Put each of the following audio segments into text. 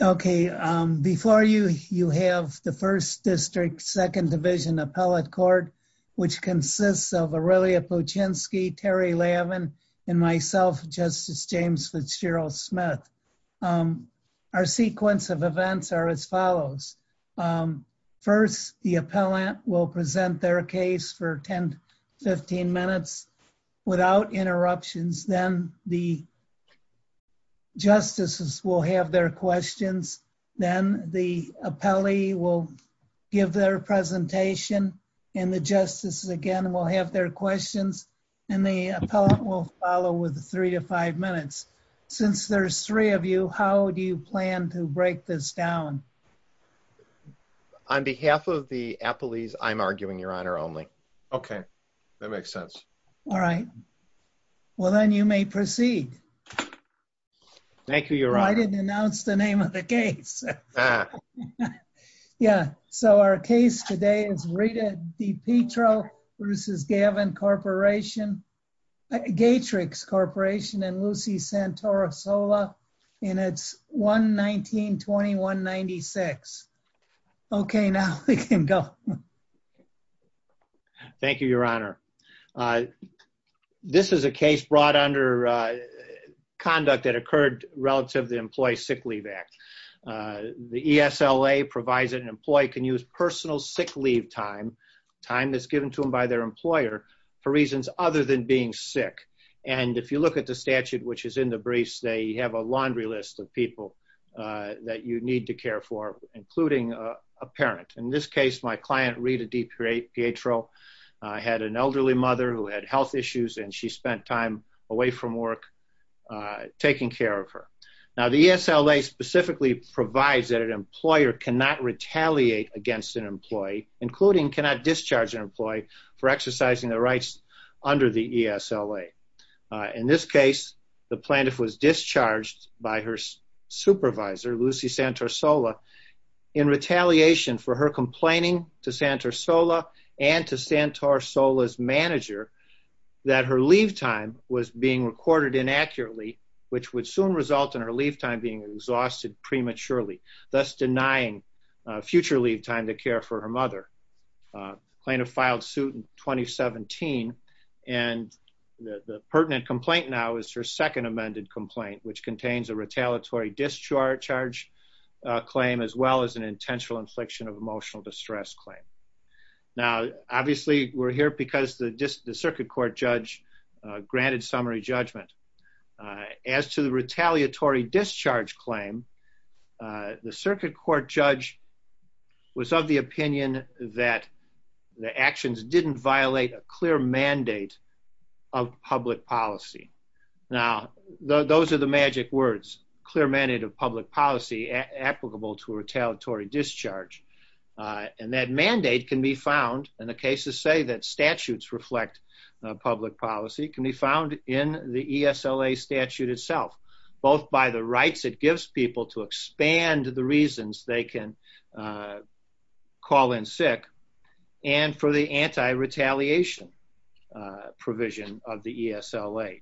OK, before you, you have the 1st District 2nd Division Appellate Court, which consists of Aurelia Puchinski, Terry Lavin, and myself, Justice James Fitzgerald Smith. Our sequence of events are as follows. First, the appellant will present their case for 10, 15 minutes without interruptions. Then the justices will have their questions. Then the appellee will give their presentation. And the justices, again, will have their questions. And the appellant will follow with three to five minutes. Since there's three of you, how do you plan to break this down? On behalf of the appellees, I'm arguing, Your Honor, only. OK, that makes sense. All right. Well, then you may proceed. Thank you, Your Honor. I didn't announce the name of the case. Yeah, so our case today is Rita DiPietro versus Gavin Corporation, Gatrix Corporation, and Lucy Santora-Sola in its 1-19-2196. OK, now we can go. Thank you, Your Honor. This is a case brought under conduct that occurred relative to the Employee Sick Leave Act. The ESLA provides an employee can use personal sick leave time, time that's given to them by their employer, for reasons other than being sick. And if you look at the statute, which is in the briefs, they have a laundry list of people that you need to care for, including a parent. In this case, my client, Rita DiPietro, had an elderly mother who had health issues, and she spent time away from work taking care of her. Now, the ESLA specifically provides that an employer cannot retaliate against an employee, including cannot discharge an employee for exercising the rights under the ESLA. In this case, the plaintiff was discharged by her supervisor, Lucy Santora-Sola, in retaliation for her complaining to Santora-Sola and to Santora-Sola's manager that her leave time was being recorded inaccurately, which would soon result in her leave time being exhausted prematurely, thus denying future leave time to care for her mother. Plaintiff filed suit in 2017, and the pertinent complaint now is her second amended complaint, which contains a retaliatory discharge charge claim as well as an intentional infliction of emotional distress claim. Now, obviously, we're here because the circuit court judge granted summary judgment. As to the retaliatory discharge claim, the circuit court judge was of the opinion that the actions didn't violate a clear mandate of public policy. Now, those are the magic words, clear mandate of public policy applicable to retaliatory discharge. And that mandate can be found, and the cases say that statutes reflect public policy, can be found in the ESLA statute itself, both by the rights it gives people to expand the reasons they can call in sick and for the anti-retaliation provision of the ESLA.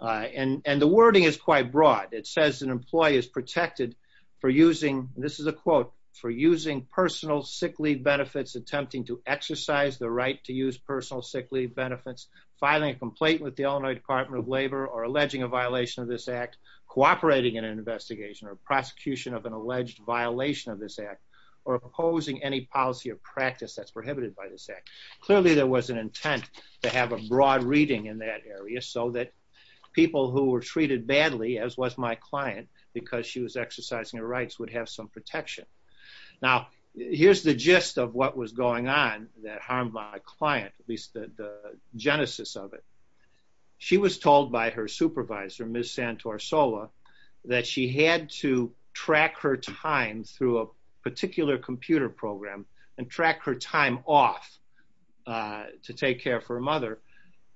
And the wording is quite broad. It says an employee is protected for using, this is a quote, for using personal sick leave benefits, attempting to exercise the right to use personal sick leave benefits, filing a complaint with the Illinois Department of Labor, or alleging a violation of this act, cooperating in an investigation or prosecution of an alleged violation of this act, or opposing any policy or practice that's prohibited by this act. Clearly, there was an intent to have a broad reading in that area so that people who were treated badly, as was my client, because she was exercising her rights, would have some protection. Now, here's the gist of what was going on that harmed my client, at least the genesis of it. She was told by her supervisor, Ms. Santor Sola, that she had to track her time through a particular computer program and track her time off to take care of her mother.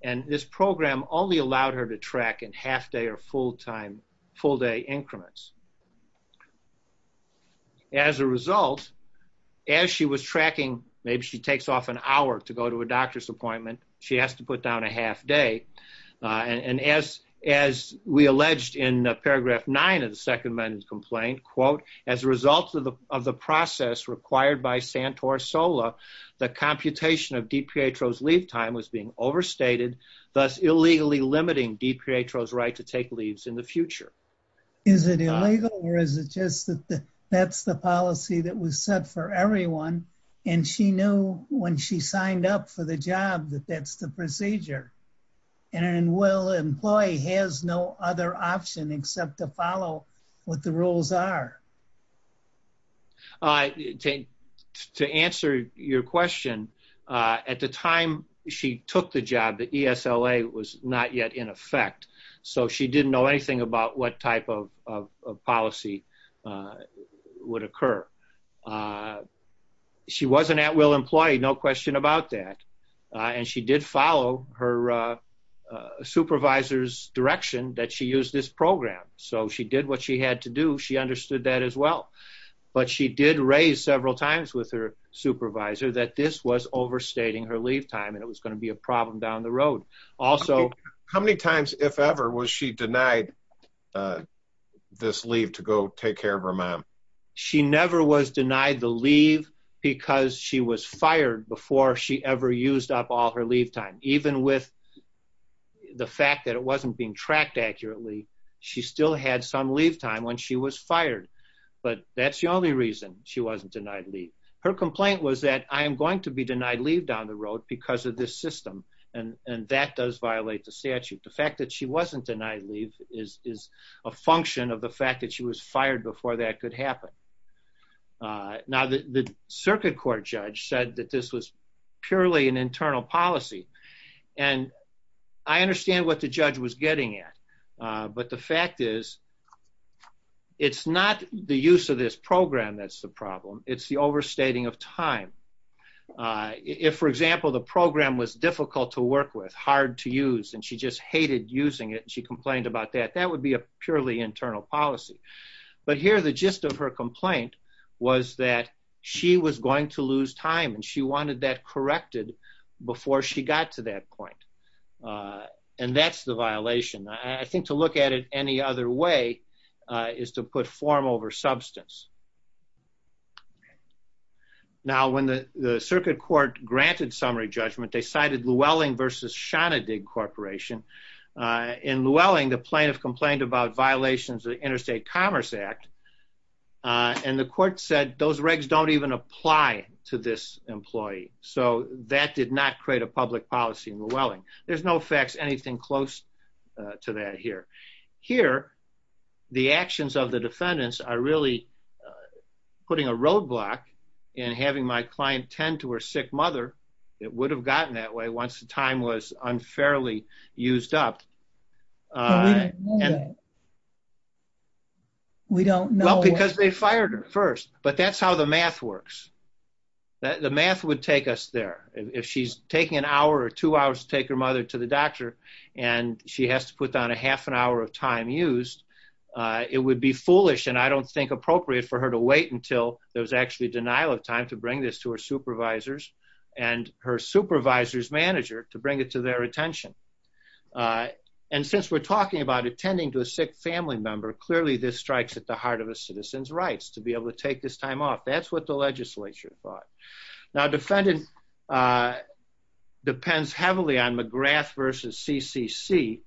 And this program only allowed her to track in half-day or full-day increments. As a result, as she was tracking, maybe she takes off an hour to go to a doctor's appointment, she has to put down a half-day. And as we alleged in paragraph 9 of the second amendment complaint, quote, as a result of the process required by Santor Sola, the computation of DPHO's leave time was being overstated, thus illegally limiting DPHO's right to take leaves in the future. Is it illegal, or is it just that that's the policy that was set for everyone, and she knew when she signed up for the job that that's the procedure? And will an employee has no other option except to follow what the rules are? To answer your question, at the time she took the job, the ESLA was not yet in effect. So she didn't know anything about what type of policy would occur. She wasn't at will employee, no question about that. And she did follow her supervisor's direction that she used this program. So she did what she had to do. She understood that as well. But she did raise several times with her supervisor that this was overstating her leave time, and it was going to be a problem down the road. Also, How many times, if ever, was she denied this leave to go take care of her mom? She never was denied the leave because she was fired before she ever used up all her leave time. Even with the fact that it wasn't being tracked accurately, she still had some leave time when she was fired. But that's the only reason she wasn't denied leave. Her complaint was that, I am going to be denied leave down the road because of this system. And that does violate the statute. The fact that she wasn't denied leave is a function of the fact that she was fired before that could happen. Now, the circuit court judge said that this was purely an internal policy. And I understand what the judge was getting at. But the fact is, it's not the use of this program that's the problem. It's the overstating of time. If, for example, the program was difficult to work with, hard to use, and she just hated using it, and she complained about that, that would be a purely internal policy. But here, the gist of her complaint was that she was going to lose time. And she wanted that corrected before she got to that point. And that's the violation. I think to look at it any other way is to put form over substance. Now, when the circuit court granted summary judgment, they cited Llewellyn versus Shonadig Corporation. In Llewellyn, the plaintiff complained about violations of the Interstate Commerce Act. And the court said, those regs don't even apply to this employee. So that did not create a public policy in Llewellyn. There's no facts anything close to that here. Here, the actions of the defendants are really putting a roadblock in having my client tend to her sick mother. It would have gotten that way once the time was unfairly used up. We don't know. Well, because they fired her first. But that's how the math works. The math would take us there. If she's taking an hour or two hours to take her mother to the doctor, and she has to put down a half an hour of time used, it would be foolish, and I don't think appropriate, for her to wait until there was actually denial of time to bring this to her supervisors and her supervisor's manager to bring it to their attention. And since we're talking about attending to a sick family member, clearly this strikes at the heart of a citizen's rights to be able to take this time off. That's what the legislature thought. Now, defendant depends heavily on McGrath versus CCC.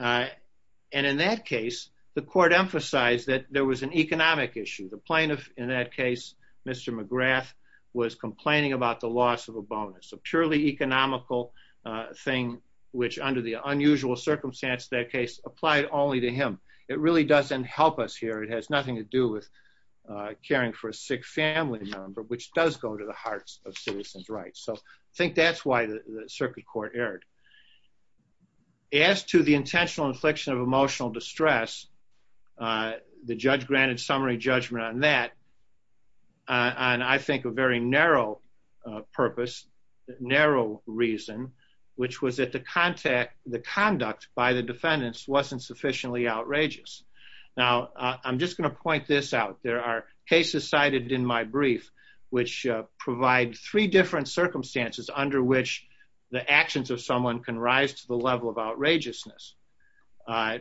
And in that case, the court emphasized that there was an economic issue. The plaintiff in that case, Mr. McGrath, was complaining about the loss of a bonus, a purely economical thing, which under the unusual circumstance of that case, applied only to him. It really doesn't help us here. It has nothing to do with caring for a sick family member, which does go to the hearts of citizens' rights. So I think that's why the circuit court erred. As to the intentional infliction of emotional distress, the judge granted summary judgment on that, on, I think, a very narrow purpose, narrow reason, which was that the conduct by the defendants wasn't sufficiently outrageous. Now, I'm just going to point this out. There are cases cited in my brief, which provide three different circumstances under which the actions of someone can rise to the level of outrageousness.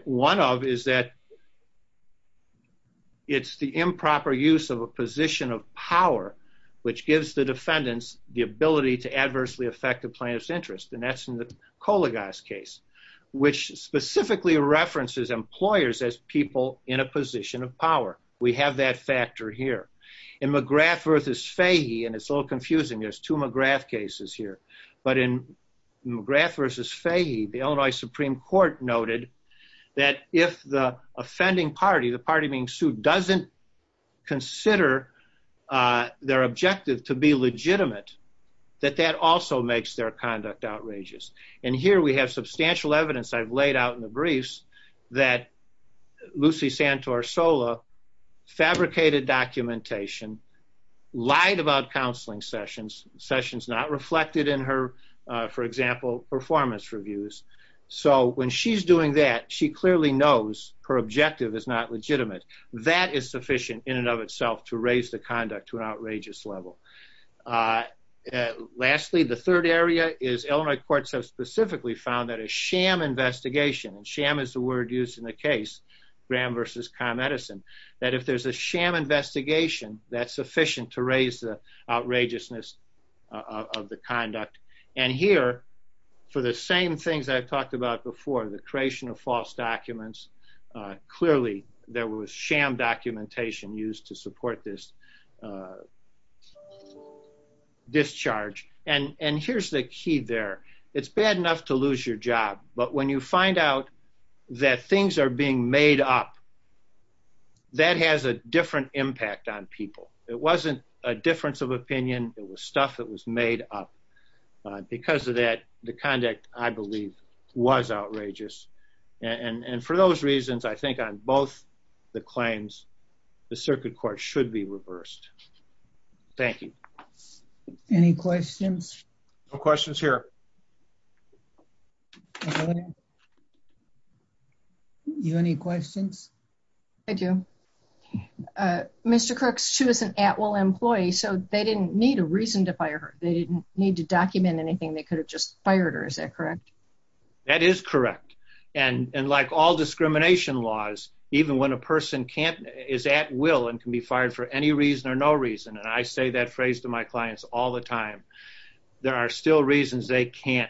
One of is that it's the improper use of a position of power, which gives the defendants the ability to adversely affect the plaintiff's interest. And that's in the Kolagos case, which specifically references employers as people in a position of power. We have that factor here. In McGrath versus Fahey, and it's a little confusing, there's two McGrath cases here. But in McGrath versus Fahey, the Illinois Supreme Court noted that if the offending party, the party being sued, doesn't consider their objective to be legitimate, that that also makes their conduct outrageous. And here we have substantial evidence I've laid out in the briefs that Lucy Santor-Sola fabricated documentation, lied about counseling sessions, sessions not reflected in her, for example, performance reviews. So when she's doing that, she clearly knows her objective is not legitimate. That is sufficient in and of itself to raise the conduct to an outrageous level. Lastly, the third area is Illinois courts have specifically found that a sham investigation, and sham is the word used in the case, Graham versus ComEdison, that if there's a sham investigation, that's sufficient to raise the outrageousness of the conduct. And here, for the same things I've talked about before, the creation of false documents, clearly there was sham documentation used to support this discharge. And here's the key there. It's bad enough to lose your job, but when you find out that things are being made up, that has a different impact on people. It wasn't a difference of opinion. It was stuff that was made up. Because of that, the conduct, I believe, was outrageous. And for those reasons, I think on both the claims, the circuit court should be reversed. Thank you. Any questions? No questions here. Do you have any questions? I do. Mr. Crooks, she was an at-will employee, so they didn't need a reason to fire her. They didn't need to document anything. They could have just fired her. Is that correct? That is correct. And like all discrimination laws, even when a person is at-will and can be fired for any reason or no reason, and I say that phrase to my clients all the time, there are still reasons they can't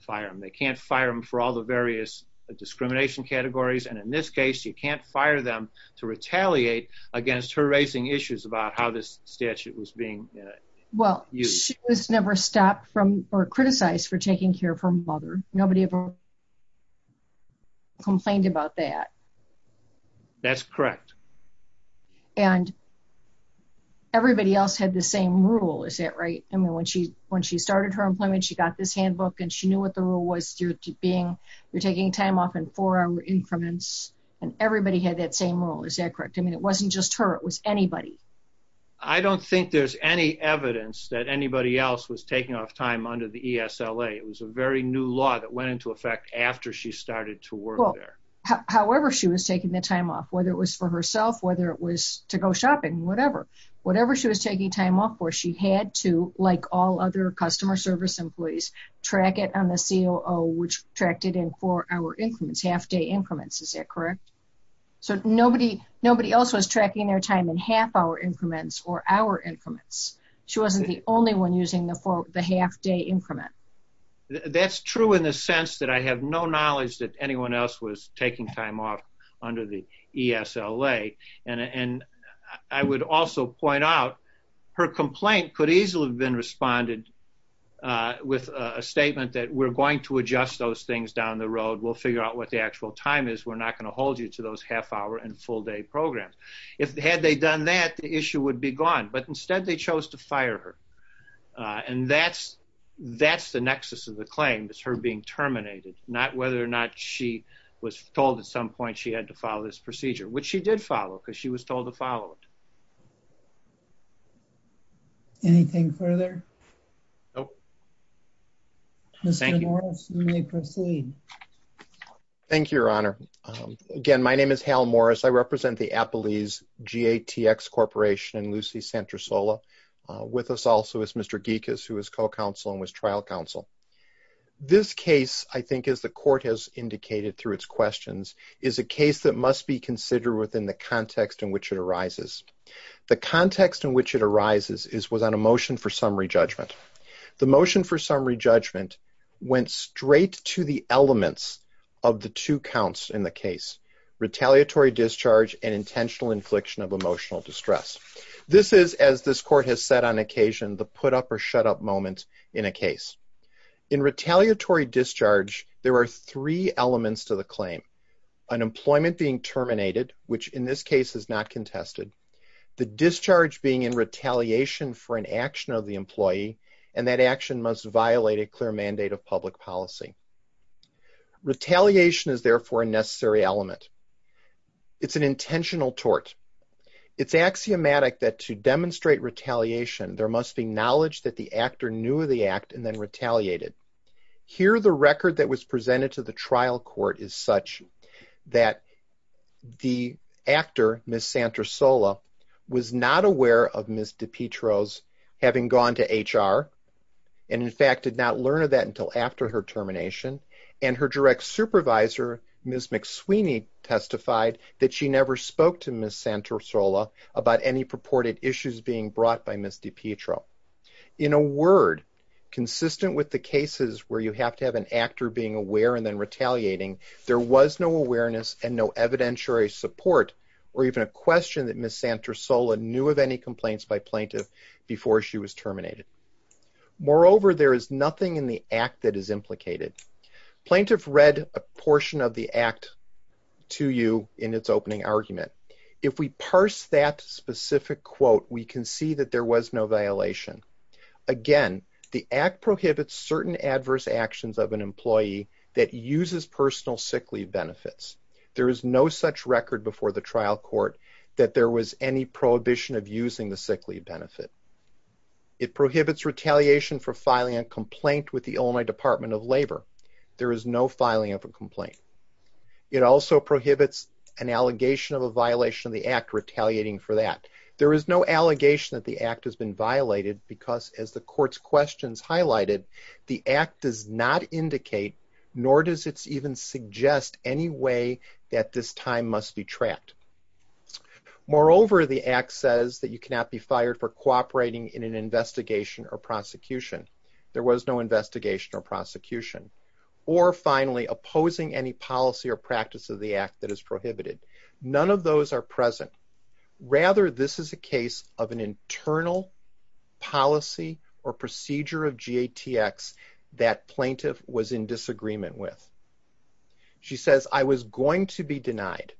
fire them. They can't fire them for all the various discrimination categories. And in this case, you can't fire them to retaliate against her raising issues about how this statute was being used. Well, she was never stopped from or criticized for taking care of her mother. Nobody ever complained about that. That's correct. And everybody else had the same rule. Is that right? I mean, when she started her employment, she got this handbook, and she knew what the rule was. You're taking time off in four-hour increments. And everybody had that same rule. Is that correct? I mean, it wasn't just her. It was anybody. I don't think there's any evidence that anybody else was taking off time under the ESLA. It was a very new law that went into effect after she started to work there. However she was taking the time off, whether it was for herself, whether it was to go shopping, whatever, whatever she was taking time off for, she had to, like all other customer service employees, track it on the COO, which tracked it in four-hour increments, half-day increments. Is that correct? So nobody else was tracking their time in half-hour increments or hour increments. She wasn't the only one using the half-day increment. That's true in the sense that I have no knowledge that anyone else was taking time off under the ESLA. And I would also point out, her complaint could easily have been responded with a statement that we're going to adjust those things down the road. We'll figure out what the actual time is. We're not going to hold you to those half-hour and full-day programs. Had they done that, the issue would be gone. But instead, they chose to fire her. And that's the nexus of the claim, is her being terminated, not whether or not she was told at some point she had to follow this procedure, which she did follow, because she was told to follow it. Anything further? Nope. Mr. Morris, you may proceed. Thank you, Your Honor. Again, my name is Hal Morris. I represent the Appalese GATX Corporation in Lucy, Santa Sola. With us also is Mr. Gikas, who is co-counsel and was trial counsel. This case, I think, as the court has indicated through its questions, is a case that must be considered within the context in which it arises. The context in which it arises was on a motion for summary judgment. The motion for summary judgment went straight to the elements of the two counts in the case, retaliatory discharge and intentional infliction of emotional distress. This is, as this court has said on occasion, the put-up-or-shut-up moment in a case. In retaliatory discharge, there are three elements to the claim. Unemployment being terminated, which in this case is not contested, the discharge being in retaliation for an action of the employee, and that action must violate a clear mandate of public policy. Retaliation is, therefore, a necessary element. It's an intentional tort. It's axiomatic that to demonstrate retaliation, there must be knowledge that the actor knew of the act and then retaliated. Here, the record that was presented to the trial court is such that the actor, Ms. Santrosola, was not aware of Ms. DiPietro's having gone to HR, and in fact, did not learn of that until after her termination, and her direct supervisor, Ms. McSweeney, testified that she never spoke to Ms. Santrosola about any purported issues being brought by Ms. DiPietro. In a word, consistent with the cases where you have to have an actor being aware and then retaliating, there was no awareness and no evidentiary support, or even a question that Ms. Santrosola knew of any complaints by plaintiff before she was terminated. Moreover, there is nothing in the act that is implicated. Plaintiff read a portion of the act to you in its opening argument. If we parse that specific quote, we can see that there was no violation. Again, the act prohibits certain adverse actions of an employee that uses personal sick leave benefits. There is no such record before the trial court that there was any prohibition of using the sick leave benefit. It prohibits retaliation for filing a complaint with the Illinois Department of Labor. There is no filing of a complaint. It also prohibits an allegation of a violation of the act retaliating for that. There is no allegation that the act has been violated because as the court's questions highlighted, the act does not indicate, nor does it even suggest any way that this time must be tracked. Moreover, the act says that you cannot be fired for cooperating in an investigation or prosecution. There was no investigation or prosecution. Or finally, opposing any policy or practice of the act that is prohibited. None of those are present. Rather, this is a case of an internal policy or procedure of GATX that plaintiff was in disagreement with. She says, I was going to be denied.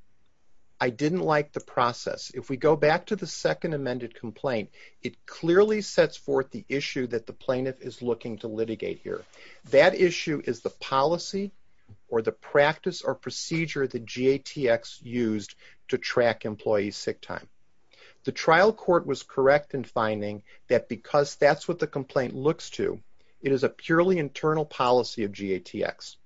I didn't like the process. If we go back to the second amended complaint, it clearly sets forth the issue that the plaintiff is looking to litigate here. That issue is the policy or the practice or procedure that GATX used to track employees' sick time. The trial court was correct in finding that because that's what the complaint looks to, it is a purely internal policy of GATX.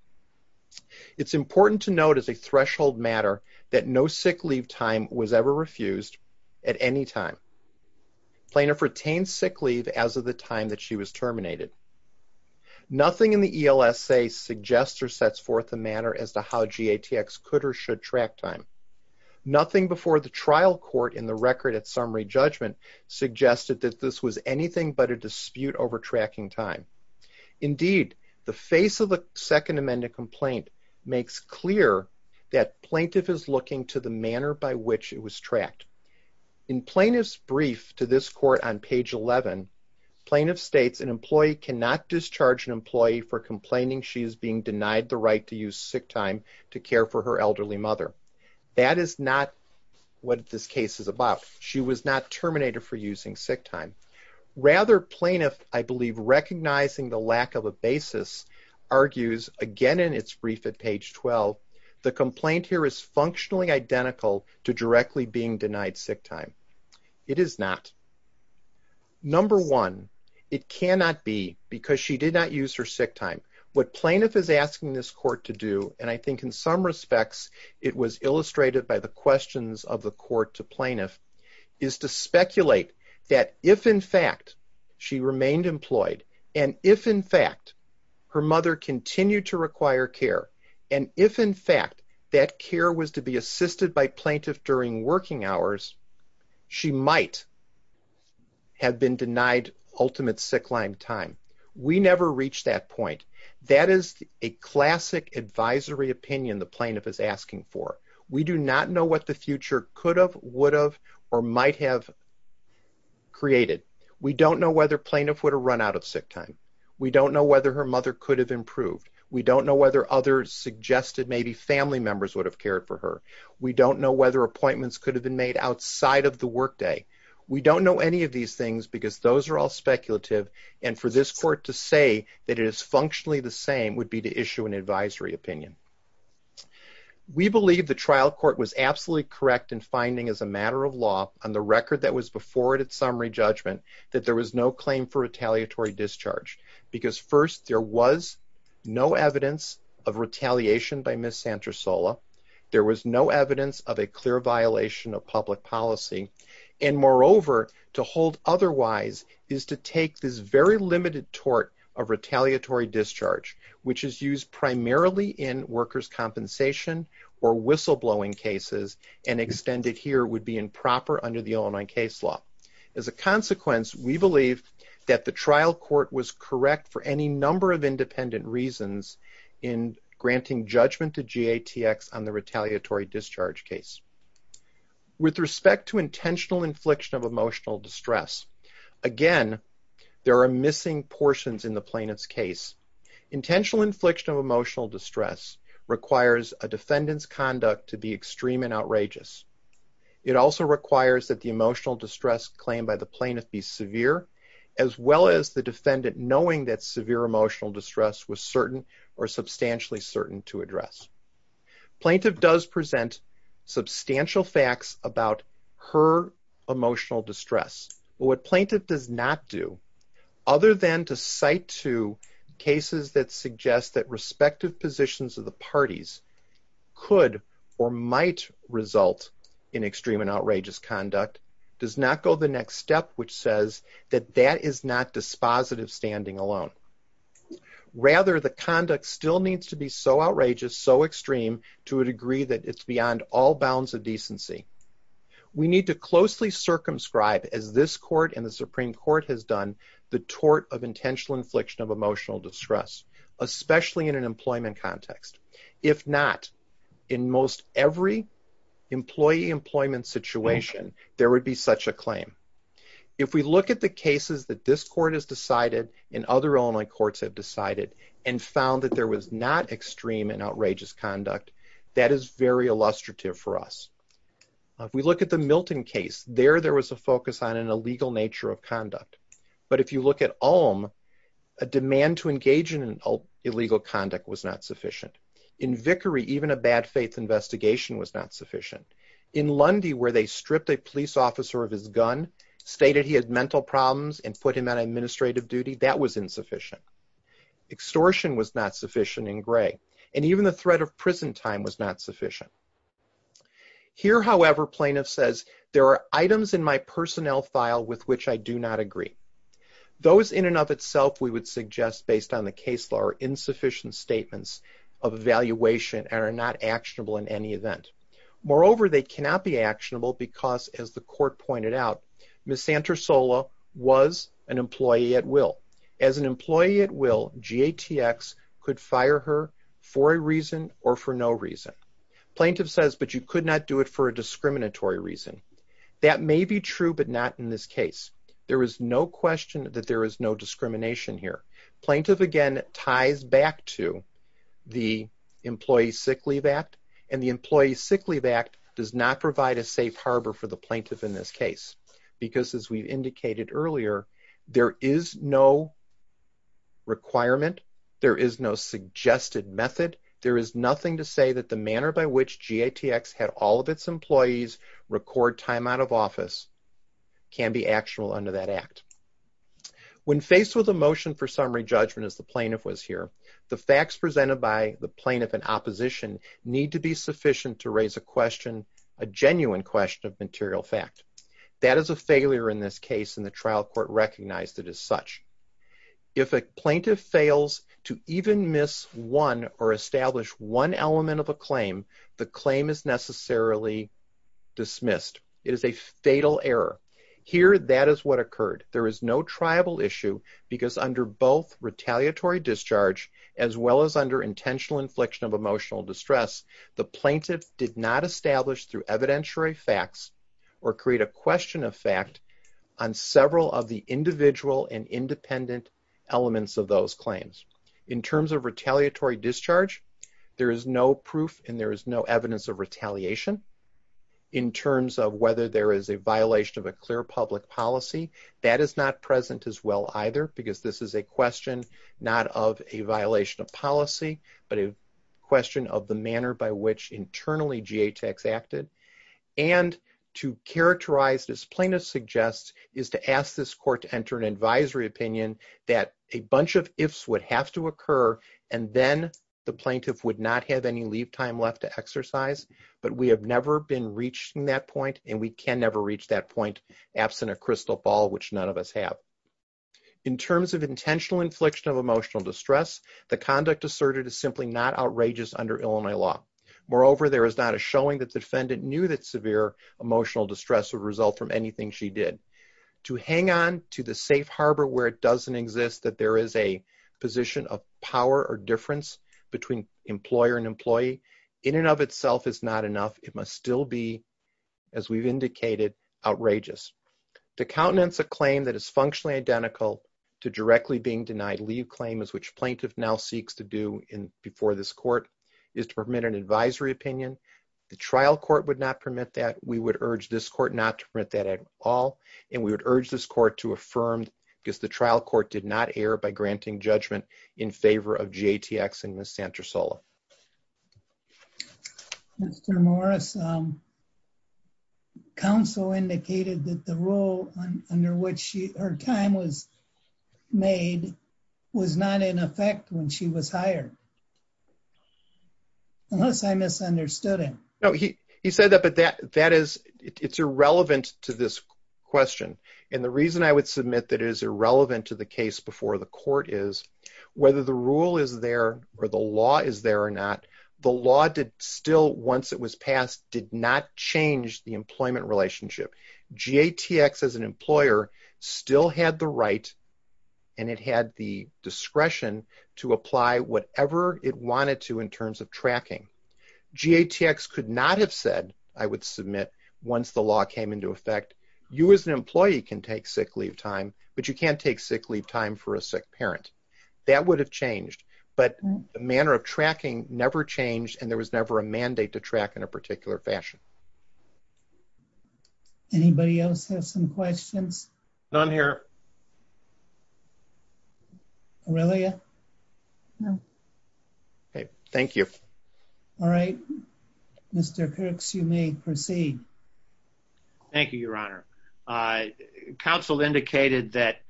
It's important to note as a threshold matter that no sick leave time was ever refused at any time. Plaintiff retained sick leave as of the time that she was terminated. Nothing in the ELSA suggests or sets forth the matter as to how GATX could or should track time. Nothing before the trial court in the record at summary judgment suggested that this was anything but a dispute over tracking time. Indeed, the face of the second amended complaint makes clear that plaintiff is looking to the manner by which it was tracked. In plaintiff's brief to this court on page 11, plaintiff states an employee cannot discharge an employee for complaining she is being denied the right to use sick time to care for her elderly mother. That is not what this case is about. She was not terminated for using sick time. Rather, plaintiff, I believe, recognizing the lack of a basis argues, again in its brief at page 12, the complaint here is functionally identical to directly being denied sick time. It is not. Number one, it cannot be because she did not use her sick time. What plaintiff is asking this court to do, and I think in some respects, it was illustrated by the questions of the court to plaintiff is to speculate that if in fact she remained employed and if in fact her mother continued to require care and if in fact that care was to be assisted by plaintiff during working hours, she might have been denied ultimate sickline time. We never reached that point. That is a classic advisory opinion the plaintiff is asking for. We do not know what the future could have, would have, or might have created. We don't know whether plaintiff would have run out of sick time. We don't know whether her mother could have improved. We don't know whether others suggested maybe family members would have cared for her. We don't know whether appointments could have been made outside of the workday. We don't know any of these things because those are all speculative. And for this court to say that it is functionally the same would be to issue an advisory opinion. We believe the trial court was absolutely correct in finding as a matter of law on the record that was before it at summary judgment that there was no claim for retaliatory discharge because first there was no evidence of retaliation by Ms. Santra Sola. There was no evidence of a clear violation of public policy. And moreover, to hold otherwise is to take this very limited tort of retaliatory discharge which is used primarily in workers' compensation or whistleblowing cases and extended here would be improper under the Illinois case law. As a consequence, we believe that the trial court was correct for any number of independent reasons in granting judgment to GATX on the retaliatory discharge case. With respect to intentional infliction of emotional distress, again, there are missing portions in the plaintiff's case. Intentional infliction of emotional distress requires a defendant's conduct to be extreme and outrageous. It also requires that the emotional distress claimed by the plaintiff be severe as well as the defendant knowing that severe emotional distress was certain or substantially certain to address. Plaintiff does present substantial facts about her emotional distress. What plaintiff does not do other than to cite to cases that suggest that respective positions of the parties could or might result in extreme and outrageous conduct does not go the next step which says that that is not dispositive standing alone. Rather, the conduct still needs to be so outrageous, so extreme to a degree that it's beyond all bounds of decency. We need to closely circumscribe, as this court and the Supreme Court has done, the tort of intentional infliction of emotional distress, especially in an employment context. If not, in most every employee employment situation, there would be such a claim. If we look at the cases that this court has decided and other Illinois courts have decided and found that there was not extreme and outrageous conduct, that is very illustrative for us. If we look at the Milton case, there there was a focus on an illegal nature of conduct. But if you look at Ulm, a demand to engage in illegal conduct was not sufficient. In Vickery, even a bad faith investigation was not sufficient. In Lundy, where they stripped a police officer of his gun, stated he had mental problems and put him on administrative duty, that was insufficient. Extortion was not sufficient in Gray. And even the threat of prison time was not sufficient. Here, however, plaintiff says, there are items in my personnel file with which I do not agree. Those in and of itself, we would suggest, based on the case law, are insufficient statements of evaluation and are not actionable in any event. Moreover, they cannot be actionable because as the court pointed out, Ms. Santosola was an employee at will. As an employee at will, GATX could fire her for a reason or for no reason. Plaintiff says, but you could not do it for a discriminatory reason. That may be true, but not in this case. There is no question that there is no discrimination here. Plaintiff, again, ties back to the Employee Sick Leave Act and the Employee Sick Leave Act does not provide a safe harbor for the plaintiff in this case. Because as we've indicated earlier, there is no requirement, there is no suggested method, there is nothing to say that the manner by which GATX had all of its employees record time out of office can be actionable under that act. When faced with a motion for summary judgment as the plaintiff was here, the facts presented by the plaintiff and opposition need to be sufficient to raise a question, a genuine question of material fact. That is a failure in this case and the trial court recognized it as such. If a plaintiff fails to even miss one or establish one element of a claim, the claim is necessarily dismissed. It is a fatal error. Here, that is what occurred. There is no triable issue because under both retaliatory discharge as well as under intentional infliction of emotional distress, the plaintiff did not establish through evidentiary facts or create a question of fact on several of the individual and independent elements of those claims. In terms of retaliatory discharge, there is no proof and there is no evidence of retaliation. In terms of whether there is a violation of a clear public policy, that is not present as well either because this is a question not of a violation of policy but a question of the manner by which internally GHX acted. And to characterize this plaintiff suggests is to ask this court to enter an advisory opinion that a bunch of ifs would have to occur and then the plaintiff would not have any leave time left to exercise, but we have never been reaching that point and we can never reach that point absent a crystal ball which none of us have. In terms of intentional infliction of emotional distress, the conduct asserted is simply not outrageous under Illinois law. Moreover, there is not a showing that defendant knew that severe emotional distress would result from anything she did. To hang on to the safe harbor where it doesn't exist that there is a position of power or difference between employer and employee in and of itself is not enough, it must still be as we've indicated, outrageous. To countenance a claim that is functionally identical to directly being denied leave claim is which plaintiff now seeks to do before this court is to permit an advisory opinion. The trial court would not permit that. We would urge this court not to print that at all. And we would urge this court to affirm because the trial court did not air by granting judgment in favor of GTX and Ms. Santra Sola. Mr. Morris, counsel indicated that the role under which her time was made was not in effect when she was hired. Unless I misunderstood him. No, he said that, but it's irrelevant to this question. And the reason I would submit that it is irrelevant to the case before the court is, whether the rule is there or the law is there or not, the law did still, once it was passed, did not change the employment relationship. GTX as an employer still had the right and it had the discretion to apply whatever it wanted to in terms of tracking. GTX could not have said, I would submit, once the law came into effect, you as an employee can take sick leave time, but you can't take sick leave time for a sick parent. That would have changed. But the manner of tracking never changed and there was never a mandate to track in a particular fashion. Anybody else have some questions? Aurelia? Okay, thank you. All right, Mr. Perks, you may proceed. Thank you, your honor. Counsel indicated that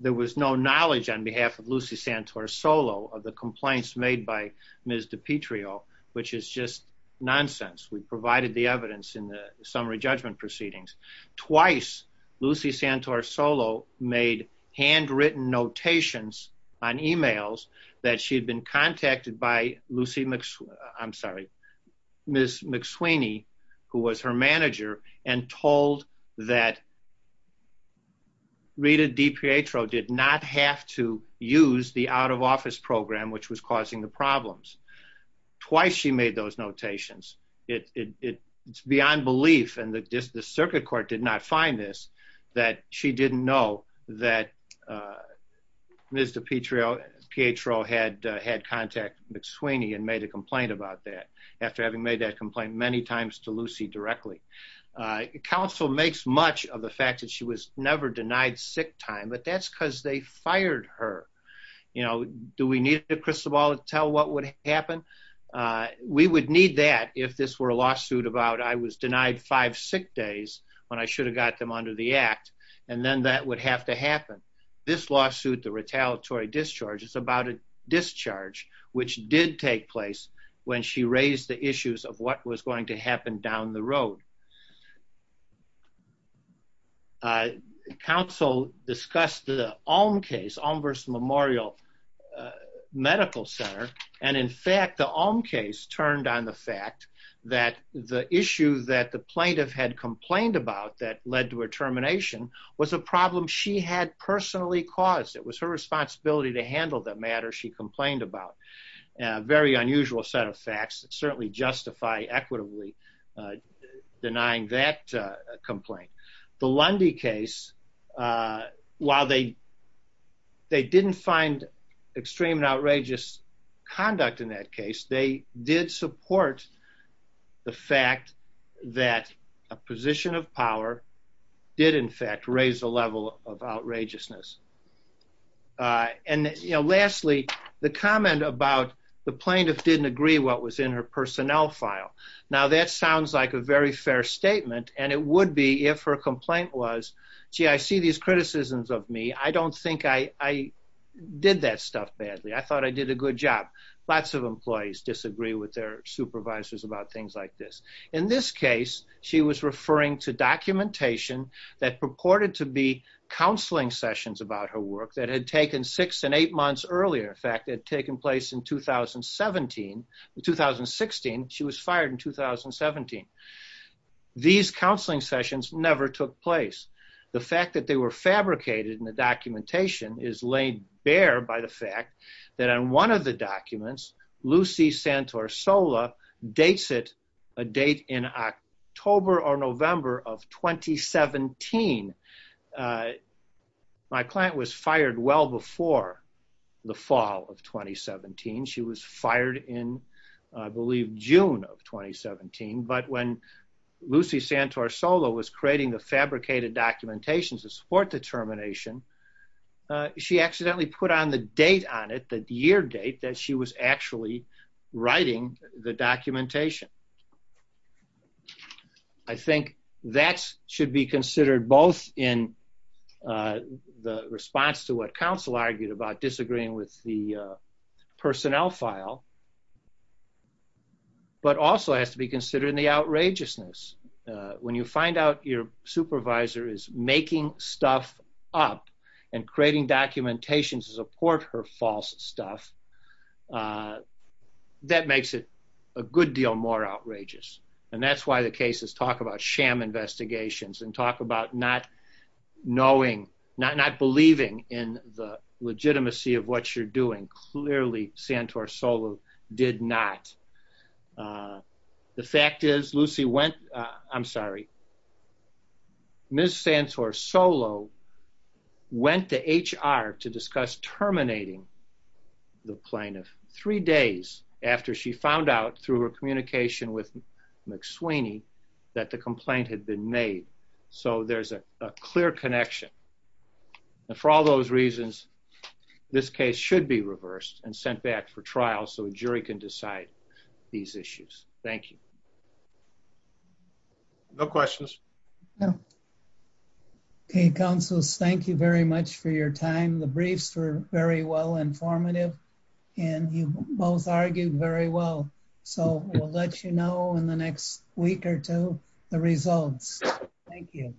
there was no knowledge on behalf of Lucy Santora Solo of the complaints made by Ms. DiPietro, which is just nonsense. We provided the evidence in the summary judgment proceedings. Twice, Lucy Santora Solo made handwritten notations on emails that she had been contacted by Lucy McSweeny, who was her manager and told that Rita DiPietro did not have to use the out of office program, which was causing the problems. Twice she made those notations. It's beyond belief and the circuit court did not find this, that she didn't know that Ms. DiPietro had had contact McSweeny and made a complaint about that after having made that complaint many times to Lucy directly. Counsel makes much of the fact that she was never denied sick time, but that's because they fired her. Do we need a crystal ball to tell what would happen? We would need that if this were a lawsuit about I was denied five sick days when I should have got them under the act, and then that would have to happen. This lawsuit, the retaliatory discharge, it's about a discharge, which did take place when she raised the issues of what was going to happen down the road. Counsel discussed the Alm case, Alm versus Memorial Medical Center. And in fact, the Alm case turned on the fact that the issue that the plaintiff had complained about that led to her termination was a problem she had personally caused. It was her responsibility to handle that matter she complained about. A very unusual set of facts that certainly justify equitably denying that complaint. The Lundy case, while they didn't find extreme and outrageous conduct in that case, they did support the fact that a position of power did in fact raise the level of outrageousness. And lastly, the comment about the plaintiff didn't agree what was in her personnel file. Now that sounds like a very fair statement, and it would be if her complaint was, gee, I see these criticisms of me. I don't think I did that stuff badly. I thought I did a good job. Lots of employees disagree with their supervisors about things like this. In this case, she was referring to documentation that purported to be counseling sessions about her work that had taken six and eight months earlier. In fact, it had taken place in 2016, she was fired in 2017. These counseling sessions never took place. The fact that they were fabricated in the documentation is laid bare by the fact that on one of the documents, Lucy Santorsola dates it a date in October or November of 2017. My client was fired well before the fall of 2017. She was fired in, I believe, June of 2017. But when Lucy Santorsola was creating the fabricated documentation to support the termination, she accidentally put on the date on it, the year date that she was actually writing the documentation. I think that should be considered both in the response to what counsel argued about disagreeing with the personnel file, but also has to be considered in the outrageousness. When you find out your supervisor is making stuff up and creating documentation to support her false stuff, that makes it a good deal more outrageous. And that's why the cases talk about sham investigations and talk about not knowing, not believing in the legitimacy of what you're doing. Clearly, Santorsola did not. The fact is Lucy went, I'm sorry, Ms. Santorsola went to HR to discuss terminating the plaintiff three days after she found out through her communication with McSweeney that the complaint had been made. So there's a clear connection. And for all those reasons, this case should be reversed and sent back for trial so a jury can decide these issues. Thank you. No questions. Okay, counselors, thank you very much for your time. The briefs were very well informative and you both argued very well. So we'll let you know in the next week or two, the results. Thank you.